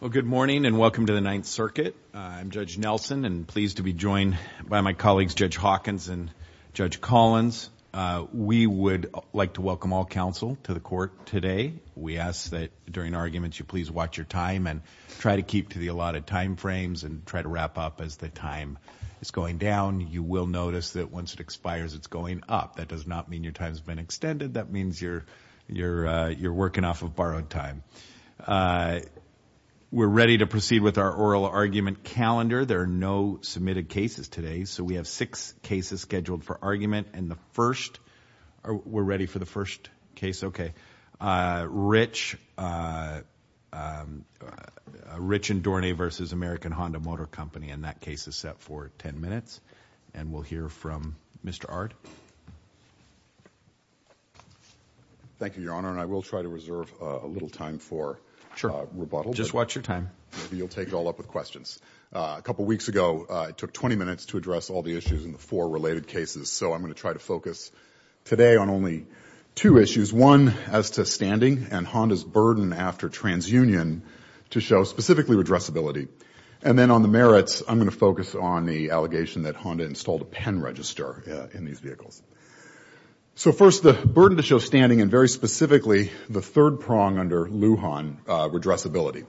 Well, good morning and welcome to the Ninth Circuit. I'm Judge Nelson and pleased to be joined by my colleagues Judge Hawkins and Judge Collins. We would like to welcome all counsel to the court today. We ask that during arguments you please watch your time and try to keep to the allotted time frames and try to wrap up as the time is going down. You will notice that once it expires, it's going up. That does not mean your time has been extended. That means you're working off of borrowed time. We're ready to proceed with our oral argument calendar. There are no submitted cases today, so we have six cases scheduled for argument. We're ready for the first case. Okay. Thank you, Your Honor, and I will try to reserve a little time for rebuttal. Just watch your time. You'll take it all up with questions. A couple weeks ago, it took 20 minutes to address all the issues in the four related cases, so I'm going to try to focus today on only two issues. One, as to standing and Honda's burden after transunion to show specifically redressability. And then on the merits, I'm going to focus on the allegation that Honda installed a pen register in these vehicles. So first, the burden to show standing and very specifically the third prong under Lujan, redressability.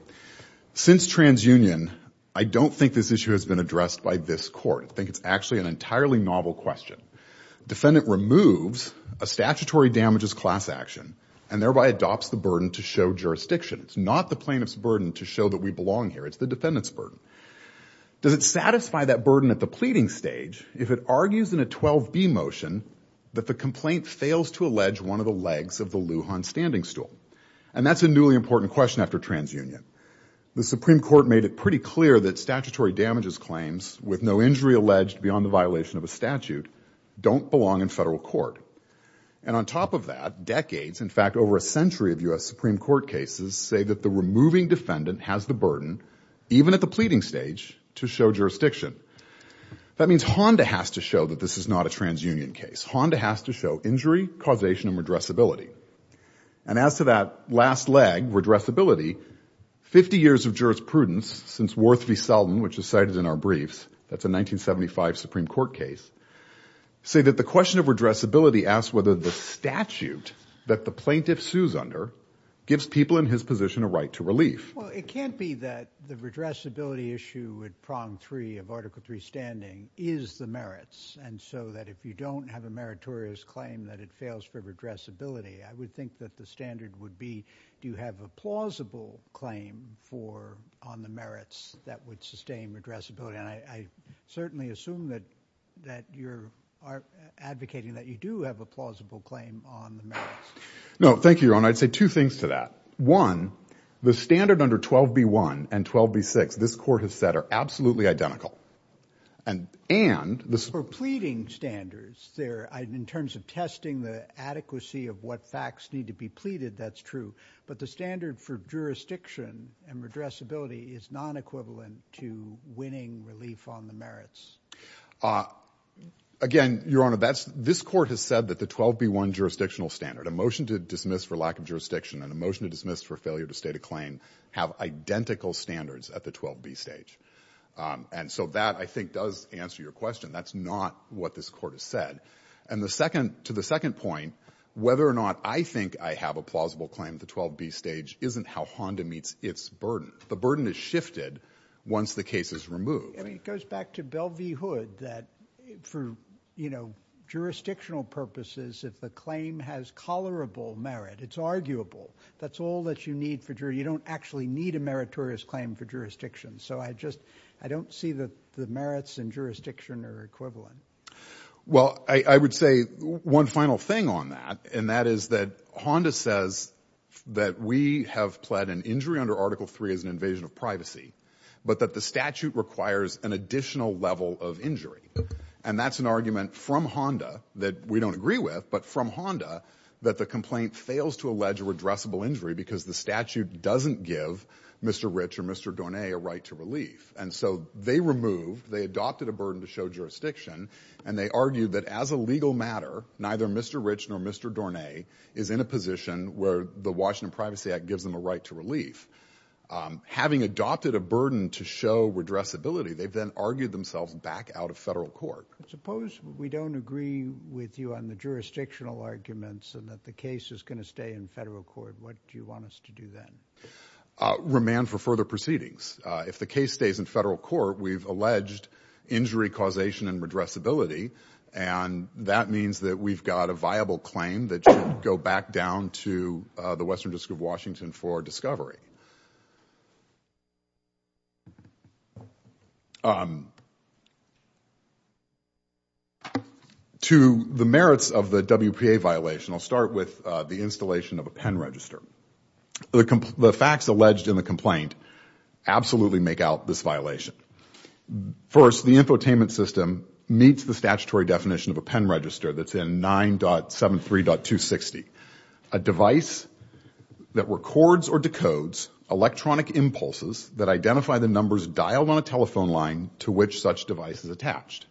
Since transunion, I don't think this issue has been addressed by this court. I think it's actually an entirely novel question. Defendant removes a statutory damages class action and thereby adopts the burden to show jurisdiction. It's not the plaintiff's burden to show that we belong here. It's the defendant's burden. Does it satisfy that burden at the pleading stage if it argues in a 12B motion that the complaint fails to allege one of the legs of the Lujan standing stool? And that's a newly important question after transunion. The Supreme Court made it pretty clear that statutory damages claims with no injury alleged beyond the violation of a statute don't belong in federal court. And on top of that, decades, in fact, over a century of U.S. Supreme Court cases say that the removing defendant has the burden, even at the pleading stage, to show jurisdiction. That means Honda has to show that this is not a transunion case. Honda has to show injury, causation, and redressability. And as to that last leg, redressability, 50 years of jurisprudence since Worth v. Selden, which is cited in our briefs, that's a 1975 Supreme Court case, say that the question of redressability asks whether the statute that the plaintiff sues under gives people in his position a right to relief. Well, it can't be that the redressability issue at prong three of Article III standing is the merits and so that if you don't have a meritorious claim that it fails for redressability, I would think that the standard would be do you have a plausible claim for on the merits that would sustain redressability? And I certainly assume that you're advocating that you do have a plausible claim on the merits. No, thank you, Your Honor. I'd say two things to that. One, the standard under 12b-1 and 12b-6, this court has said, are absolutely identical. And, and the — For pleading standards, in terms of testing the adequacy of what facts need to be pleaded, that's true. But the standard for jurisdiction and redressability is non-equivalent to winning relief on the merits. Again, Your Honor, this court has said that the 12b-1 jurisdictional standard, a motion to dismiss for lack of jurisdiction and a motion to dismiss for failure to state a claim, have identical standards at the 12b stage. And so that, I think, does answer your question. That's not what this court has said. And the second — to the second point, whether or not I think I have a plausible claim at the 12b stage isn't how Honda meets its burden. The burden is shifted once the case is removed. I mean, it goes back to Belle v. Hood that for, you know, jurisdictional purposes, if the claim has tolerable merit, it's arguable. That's all that you need for — you don't actually need a meritorious claim for jurisdiction. So I just — I don't see that the merits and jurisdiction are equivalent. Well, I would say one final thing on that, and that is that Honda says that we have pled an injury under Article III as an invasion of privacy, but that the statute requires an additional level of injury. And that's an argument from Honda that we don't agree with, but from Honda that the complaint fails to allege a redressable injury because the statute doesn't give Mr. Rich or Mr. Dornet a right to relief. And so they removed — they adopted a burden to show jurisdiction, and they argued that as a legal matter, neither Mr. Rich nor Mr. Dornet is in a position where the Washington Privacy Act gives them a right to relief. Having adopted a burden to show redressability, they then argued themselves back out of federal court. Suppose we don't agree with you on the jurisdictional arguments and that the case is going to stay in federal court. What do you want us to do then? Remand for further proceedings. If the case stays in federal court, we've alleged injury causation and redressability, and that means that we've got a viable claim that should go back down to the Western District of Washington for discovery. To the merits of the WPA violation, I'll start with the installation of a pen register. The facts alleged in the complaint absolutely make out this violation. First, the infotainment system meets the statutory definition of a pen register that's in 9.73.260, a device that records or decodes electronic impulses that identify the numbers dialed on a telephone line to which such device is attached.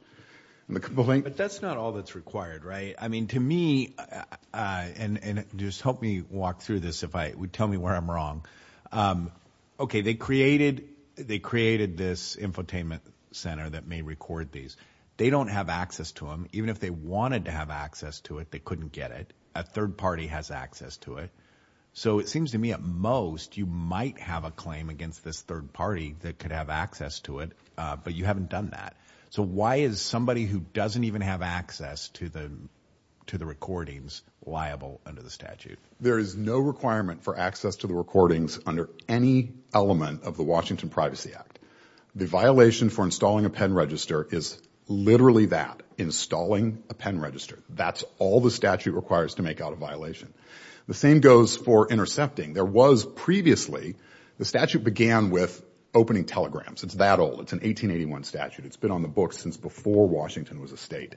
But that's not all that's required, right? I mean, to me, and just help me walk through this if I would tell me where I'm wrong. Okay, they created this infotainment center that may record these. They don't have access to them. Even if they wanted to have access to it, they couldn't get it. A third party has access to it. So it seems to me at most you might have a claim against this third party that could have access to it, but you haven't done that. So why is somebody who doesn't even have access to the recordings liable under the statute? There is no requirement for access to the recordings under any element of the Washington Privacy Act. The violation for installing a pen register is literally that, installing a pen register. That's all the statute requires to make out a violation. The same goes for intercepting. There was previously, the statute began with opening telegrams. It's that old. It's an 1881 statute. It's been on the books since before Washington was a state.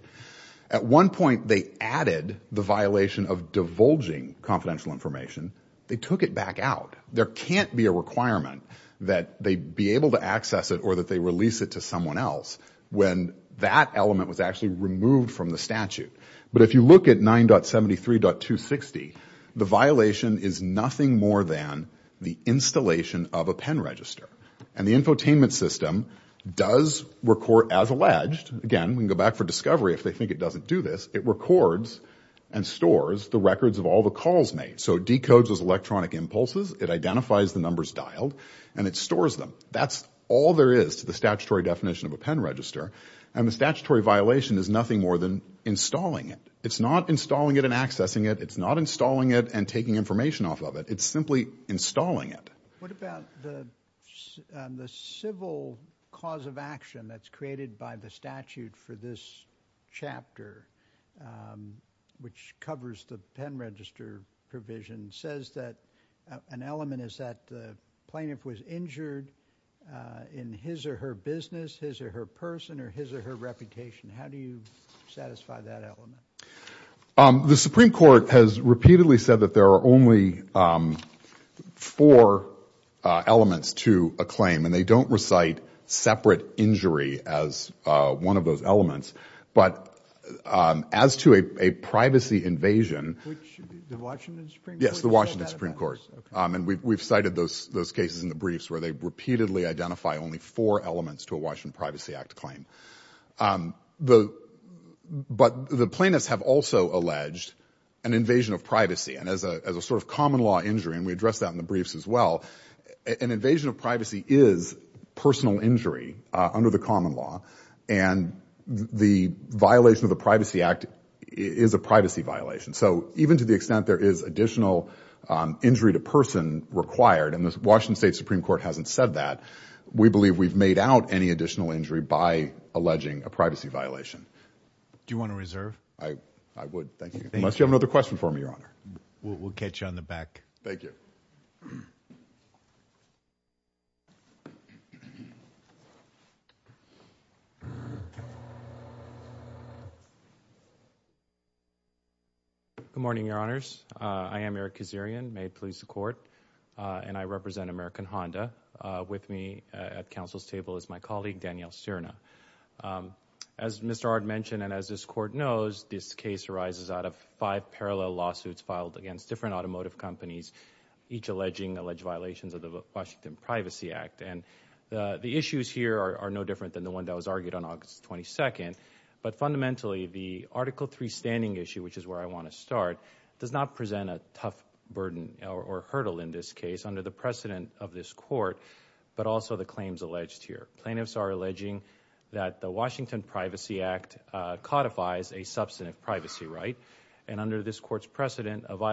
At one point, they added the violation of divulging confidential information. They took it back out. There can't be a requirement that they be able to access it or that they release it to someone else when that element was actually removed from the statute. But if you look at 9.73.260, the violation is nothing more than the installation of a pen register. And the infotainment system does record as alleged. Again, we can go back for discovery if they think it doesn't do this. It records and stores the records of all the calls made. So it decodes those electronic impulses. It identifies the numbers dialed, and it stores them. That's all there is to the statutory definition of a pen register. And the statutory violation is nothing more than installing it. It's not installing it and accessing it. It's not installing it and taking information off of it. It's simply installing it. What about the civil cause of action that's created by the statute for this chapter, which covers the pen register provision? It says that an element is that the plaintiff was injured in his or her business, his or her person, or his or her reputation. How do you satisfy that element? The Supreme Court has repeatedly said that there are only four elements to a claim, and they don't recite separate injury as one of those elements. But as to a privacy invasion— Which, the Washington Supreme Court? Yes, the Washington Supreme Court. And we've cited those cases in the briefs where they repeatedly identify only four elements to a Washington Privacy Act claim. But the plaintiffs have also alleged an invasion of privacy. And as a sort of common-law injury—and we addressed that in the briefs as well— an invasion of privacy is personal injury under the common law, and the violation of the Privacy Act is a privacy violation. So even to the extent there is additional injury to person required— and the Washington State Supreme Court hasn't said that— Do you want to reserve? I would, thank you. Unless you have another question for me, Your Honor. We'll catch you on the back. Thank you. Good morning, Your Honors. I am Eric Kazarian. May it please the Court. And I represent American Honda. With me at counsel's table is my colleague, Danielle Cerna. As Mr. Ard mentioned and as this Court knows, this case arises out of five parallel lawsuits filed against different automotive companies, each alleging alleged violations of the Washington Privacy Act. And the issues here are no different than the one that was argued on August 22nd. But fundamentally, the Article III standing issue, which is where I want to start, does not present a tough burden or hurdle in this case. It's under the precedent of this Court, but also the claims alleged here. Plaintiffs are alleging that the Washington Privacy Act codifies a substantive privacy right. And under this Court's precedent, an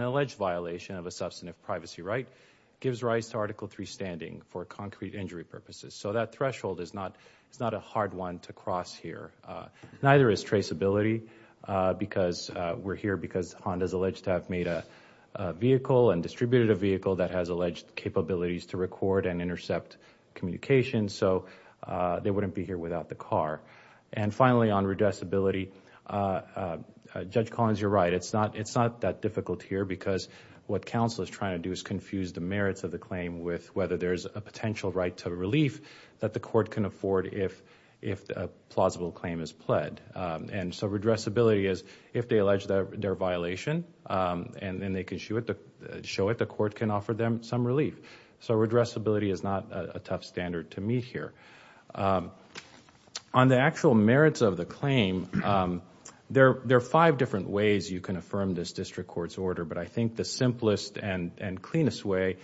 alleged violation of a substantive privacy right gives rise to Article III standing for concrete injury purposes. So that threshold is not a hard one to cross here. Neither is traceability, because we're here because Honda is alleged to have made a vehicle and distributed a vehicle that has alleged capabilities to record and intercept communications. So they wouldn't be here without the car. And finally, on redressability, Judge Collins, you're right. It's not that difficult here because what counsel is trying to do is confuse the merits of the claim with whether there's a potential right to relief that the Court can afford if a plausible claim is pled. And so redressability is if they allege their violation, and then they can show it the Court can offer them some relief. So redressability is not a tough standard to meet here. On the actual merits of the claim, there are five different ways you can affirm this District Court's order. But I think the simplest and cleanest way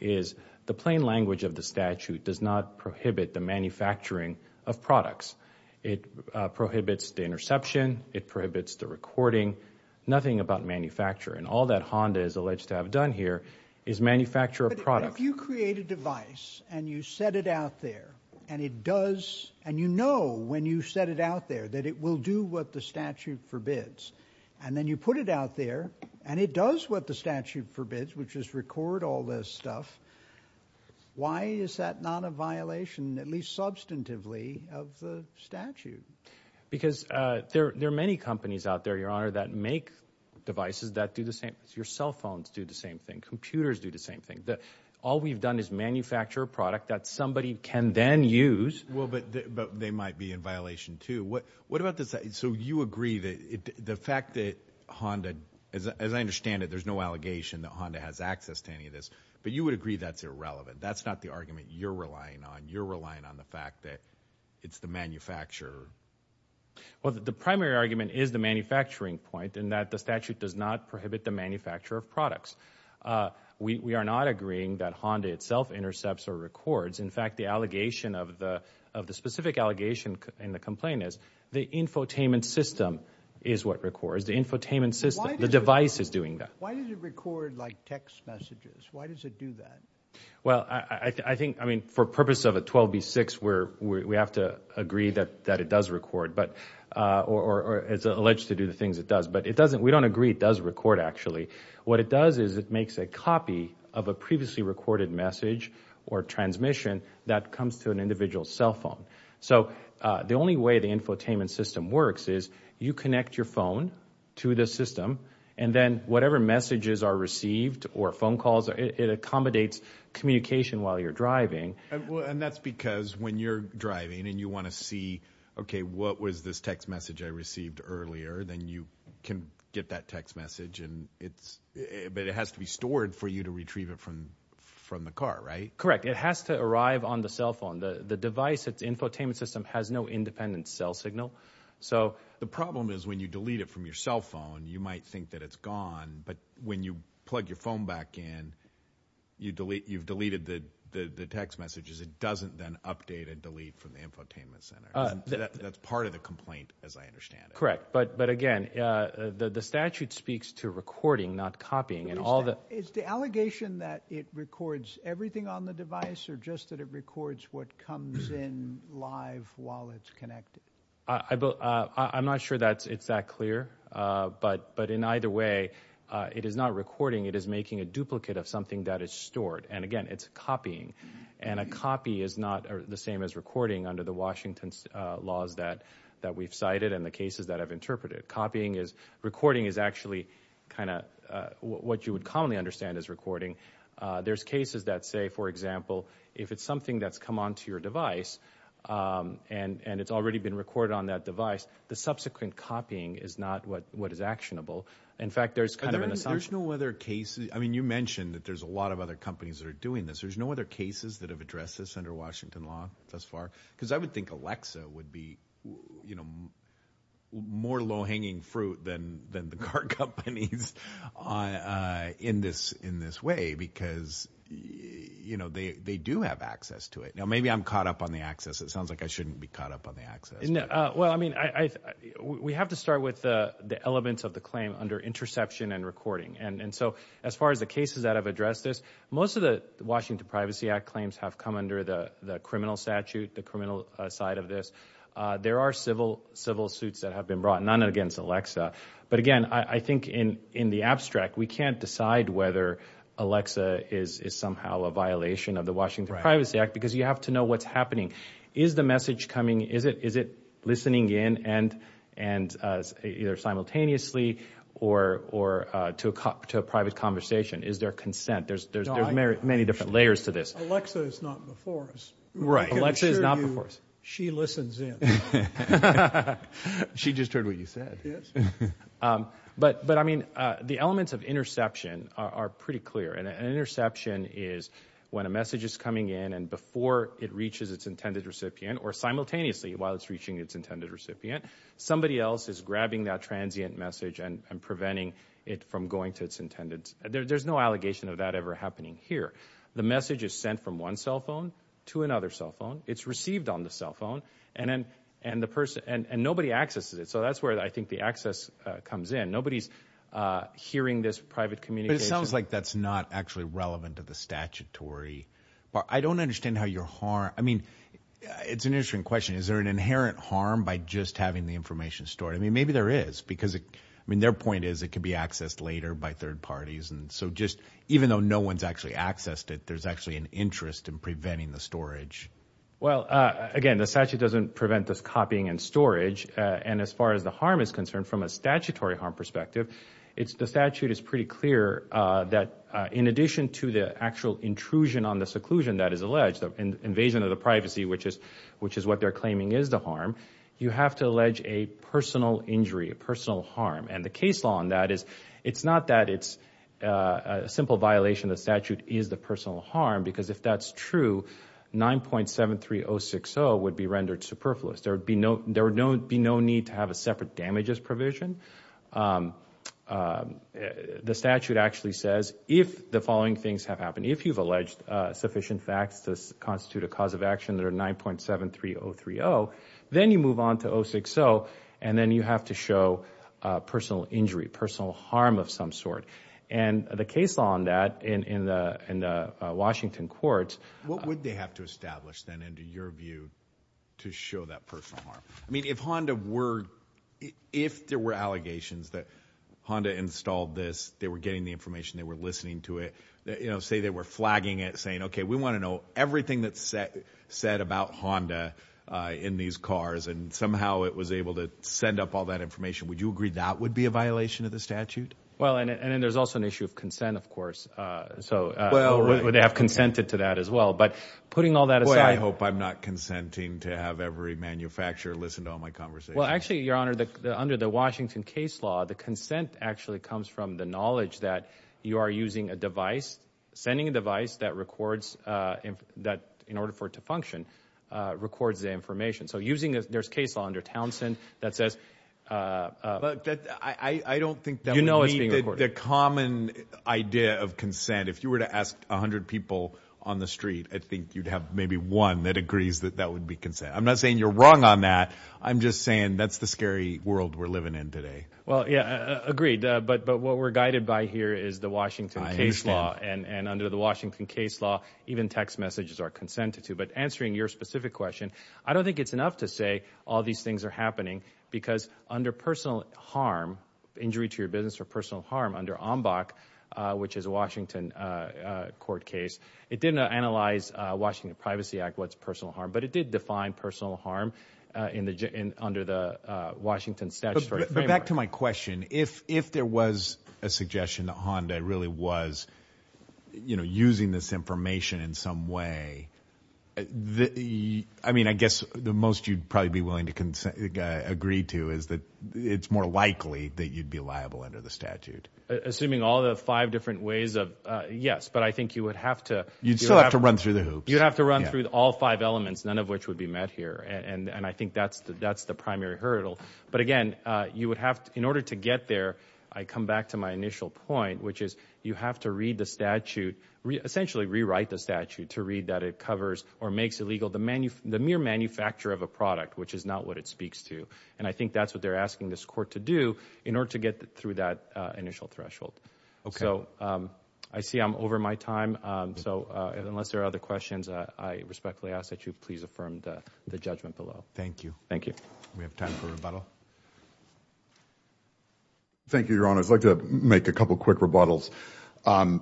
is the plain language of the statute does not prohibit the manufacturing of products. It prohibits the interception. It prohibits the recording. Nothing about manufacturing. All that Honda is alleged to have done here is manufacture a product. But if you create a device and you set it out there and it does, and you know when you set it out there that it will do what the statute forbids, and then you put it out there and it does what the statute forbids, which is record all this stuff, why is that not a violation, at least substantively, of the statute? Because there are many companies out there, Your Honor, that make devices that do the same. Your cell phones do the same thing. Computers do the same thing. All we've done is manufacture a product that somebody can then use. Well, but they might be in violation too. What about this? So you agree that the fact that Honda, as I understand it, there's no allegation that Honda has access to any of this, but you would agree that's irrelevant. That's not the argument you're relying on. You're relying on the fact that it's the manufacturer. Well, the primary argument is the manufacturing point in that the statute does not prohibit the manufacture of products. We are not agreeing that Honda itself intercepts or records. In fact, the specific allegation in the complaint is the infotainment system is what records, the infotainment system, the device is doing that. Why does it record, like, text messages? Why does it do that? Well, I think, I mean, for purpose of a 12B6 where we have to agree that it does record or is alleged to do the things it does, but we don't agree it does record, actually. What it does is it makes a copy of a previously recorded message or transmission that comes to an individual's cell phone. So the only way the infotainment system works is you connect your phone to the system, and then whatever messages are received or phone calls, it accommodates communication while you're driving. And that's because when you're driving and you want to see, okay, what was this text message I received earlier, then you can get that text message, but it has to be stored for you to retrieve it from the car, right? Correct. It has to arrive on the cell phone. The device, its infotainment system, has no independent cell signal. So the problem is when you delete it from your cell phone, you might think that it's gone, but when you plug your phone back in, you've deleted the text messages. It doesn't then update and delete from the infotainment center. That's part of the complaint as I understand it. Correct, but again, the statute speaks to recording, not copying. Is the allegation that it records everything on the device or just that it records what comes in live while it's connected? I'm not sure it's that clear, but in either way, it is not recording. It is making a duplicate of something that is stored, and again, it's copying. And a copy is not the same as recording under the Washington laws that we've cited and the cases that I've interpreted. Recording is actually kind of what you would commonly understand as recording. There's cases that say, for example, if it's something that's come onto your device and it's already been recorded on that device, the subsequent copying is not what is actionable. In fact, there's kind of an assumption. You mentioned that there's a lot of other companies that are doing this. There's no other cases that have addressed this under Washington law thus far? Because I would think Alexa would be more low-hanging fruit than the car companies in this way because they do have access to it. Now, maybe I'm caught up on the access. It sounds like I shouldn't be caught up on the access. Well, I mean, we have to start with the elements of the claim under interception and recording. And so as far as the cases that have addressed this, most of the Washington Privacy Act claims have come under the criminal statute, the criminal side of this. There are civil suits that have been brought, none against Alexa. But again, I think in the abstract, we can't decide whether Alexa is somehow a violation of the Washington Privacy Act because you have to know what's happening. Is the message coming, is it listening in either simultaneously or to a private conversation? Is there consent? There's many different layers to this. Alexa is not before us. Alexa is not before us. She listens in. She just heard what you said. Yes. But, I mean, the elements of interception are pretty clear. And an interception is when a message is coming in and before it reaches its intended recipient or simultaneously while it's reaching its intended recipient, somebody else is grabbing that transient message and preventing it from going to its intended. There's no allegation of that ever happening here. The message is sent from one cell phone to another cell phone. It's received on the cell phone. And nobody accesses it. So that's where I think the access comes in. Nobody's hearing this private communication. But it sounds like that's not actually relevant to the statutory. I don't understand how your harm ñ I mean, it's an interesting question. Is there an inherent harm by just having the information stored? I mean, maybe there is because, I mean, their point is it could be accessed later by third parties. And so just even though no one's actually accessed it, there's actually an interest in preventing the storage. Well, again, the statute doesn't prevent this copying and storage. And as far as the harm is concerned, from a statutory harm perspective, the statute is pretty clear that in addition to the actual intrusion on the seclusion that is alleged, the invasion of the privacy, which is what they're claiming is the harm, you have to allege a personal injury, a personal harm. And the case law on that is it's not that it's a simple violation of the statute is the personal harm, because if that's true, 9.73060 would be rendered superfluous. There would be no need to have a separate damages provision. The statute actually says if the following things have happened, if you've alleged sufficient facts to constitute a cause of action that are 9.73030, then you move on to 060, and then you have to show personal injury, personal harm of some sort. And the case law on that in the Washington courts ñ to show that personal harm. I mean, if Honda wereóif there were allegations that Honda installed this, they were getting the information, they were listening to it, say they were flagging it, saying, okay, we want to know everything that's said about Honda in these cars, and somehow it was able to send up all that information, would you agree that would be a violation of the statute? Well, and then there's also an issue of consent, of course. So would they have consented to that as well? But putting all that asideó Boy, I hope I'm not consenting to have every manufacturer listen to all my conversations. Well, actually, Your Honor, under the Washington case law, the consent actually comes from the knowledge that you are using a device, sending a device that recordsóin order for it to functionórecords the information. So usingóthere's case law under Townsend that saysó But I don't think that would meet the common idea of consent. If you were to ask 100 people on the street, I think you'd have maybe one that agrees that that would be consent. I'm not saying you're wrong on that. I'm just saying that's the scary world we're living in today. Well, yeah, agreed. But what we're guided by here is the Washington case law. I understand. And under the Washington case law, even text messages are consented to. But answering your specific question, I don't think it's enough to say all these things are happening because under personal harm, injury to your business or personal harm, under OMBAC, which is a Washington court case, it didn't analyze the Washington Privacy Act, what's personal harm, but it did define personal harm under the Washington statutory framework. But back to my question, if there was a suggestion that Honda really was using this information in some way, I mean, I guess the most you'd probably be willing to agree to is that it's more likely that you'd be liable under the statute. Assuming all the five different ways of, yes, but I think you would have to. You'd still have to run through the hoops. You'd have to run through all five elements, none of which would be met here. And I think that's the primary hurdle. But, again, in order to get there, I come back to my initial point, which is you have to read the statute, essentially rewrite the statute to read that it covers or makes illegal the mere manufacture of a product, which is not what it speaks to. And I think that's what they're asking this court to do in order to get through that initial threshold. So I see I'm over my time. So unless there are other questions, I respectfully ask that you please affirm the judgment below. Thank you. Thank you. We have time for rebuttal. Thank you, Your Honor. I'd like to make a couple quick rebuttals.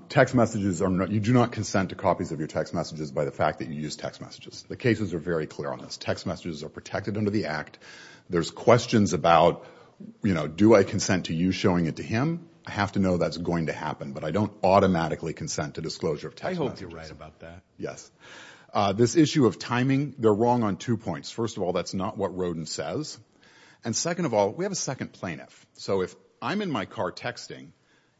Text messages, you do not consent to copies of your text messages by the fact that you use text messages. The cases are very clear on this. Text messages are protected under the Act. There's questions about, you know, do I consent to you showing it to him? I have to know that's going to happen, but I don't automatically consent to disclosure of text messages. I hope you're right about that. Yes. This issue of timing, they're wrong on two points. First of all, that's not what Rodin says. And second of all, we have a second plaintiff. So if I'm in my car texting,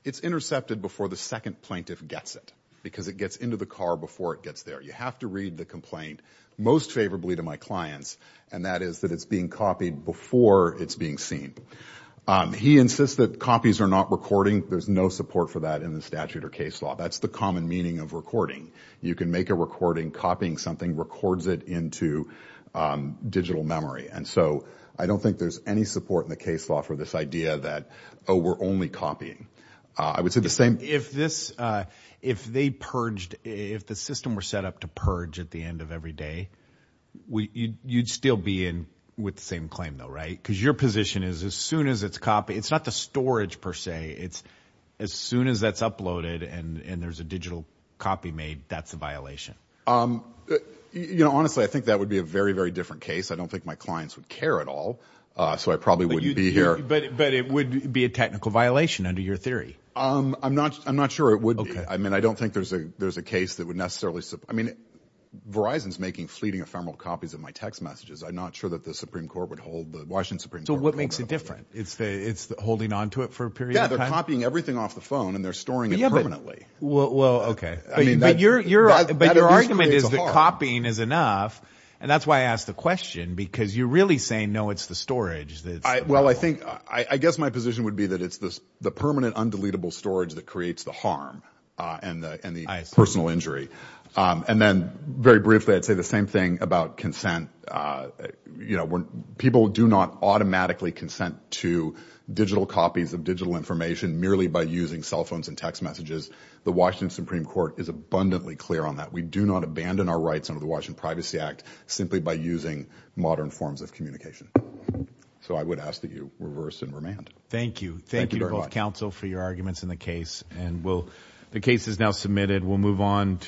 it's intercepted before the second plaintiff gets it because it gets into the car before it gets there. You have to read the complaint most favorably to my clients, and that is that it's being copied before it's being seen. He insists that copies are not recording. There's no support for that in the statute or case law. That's the common meaning of recording. You can make a recording. Copying something records it into digital memory. And so I don't think there's any support in the case law for this idea that, oh, we're only copying. I would say the same. If this, if they purged, if the system were set up to purge at the end of every day, you'd still be in with the same claim though, right? Because your position is as soon as it's copied, it's not the storage per se. It's as soon as that's uploaded and there's a digital copy made, that's a violation. Honestly, I think that would be a very, very different case. I don't think my clients would care at all, so I probably wouldn't be here. But it would be a technical violation under your theory. I'm not sure it would be. I mean, I don't think there's a case that would necessarily support. I mean, Verizon's making fleeting ephemeral copies of my text messages. I'm not sure that the Supreme Court would hold, the Washington Supreme Court would hold that. So what makes it different? It's holding onto it for a period of time? Yeah, they're copying everything off the phone, and they're storing it permanently. Well, okay. But your argument is that copying is enough, and that's why I asked the question, because you're really saying, no, it's the storage. Well, I think, I guess my position would be that it's the permanent, undeletable storage that creates the harm and the personal injury. And then, very briefly, I'd say the same thing about consent. You know, when people do not automatically consent to digital copies of digital information merely by using cell phones and text messages, the Washington Supreme Court is abundantly clear on that. We do not abandon our rights under the Washington Privacy Act simply by using modern forms of communication. So I would ask that you reverse and remand. Thank you. Thank you to both counsel for your arguments in the case. And we'll, the case is now submitted. We'll move on to the next case.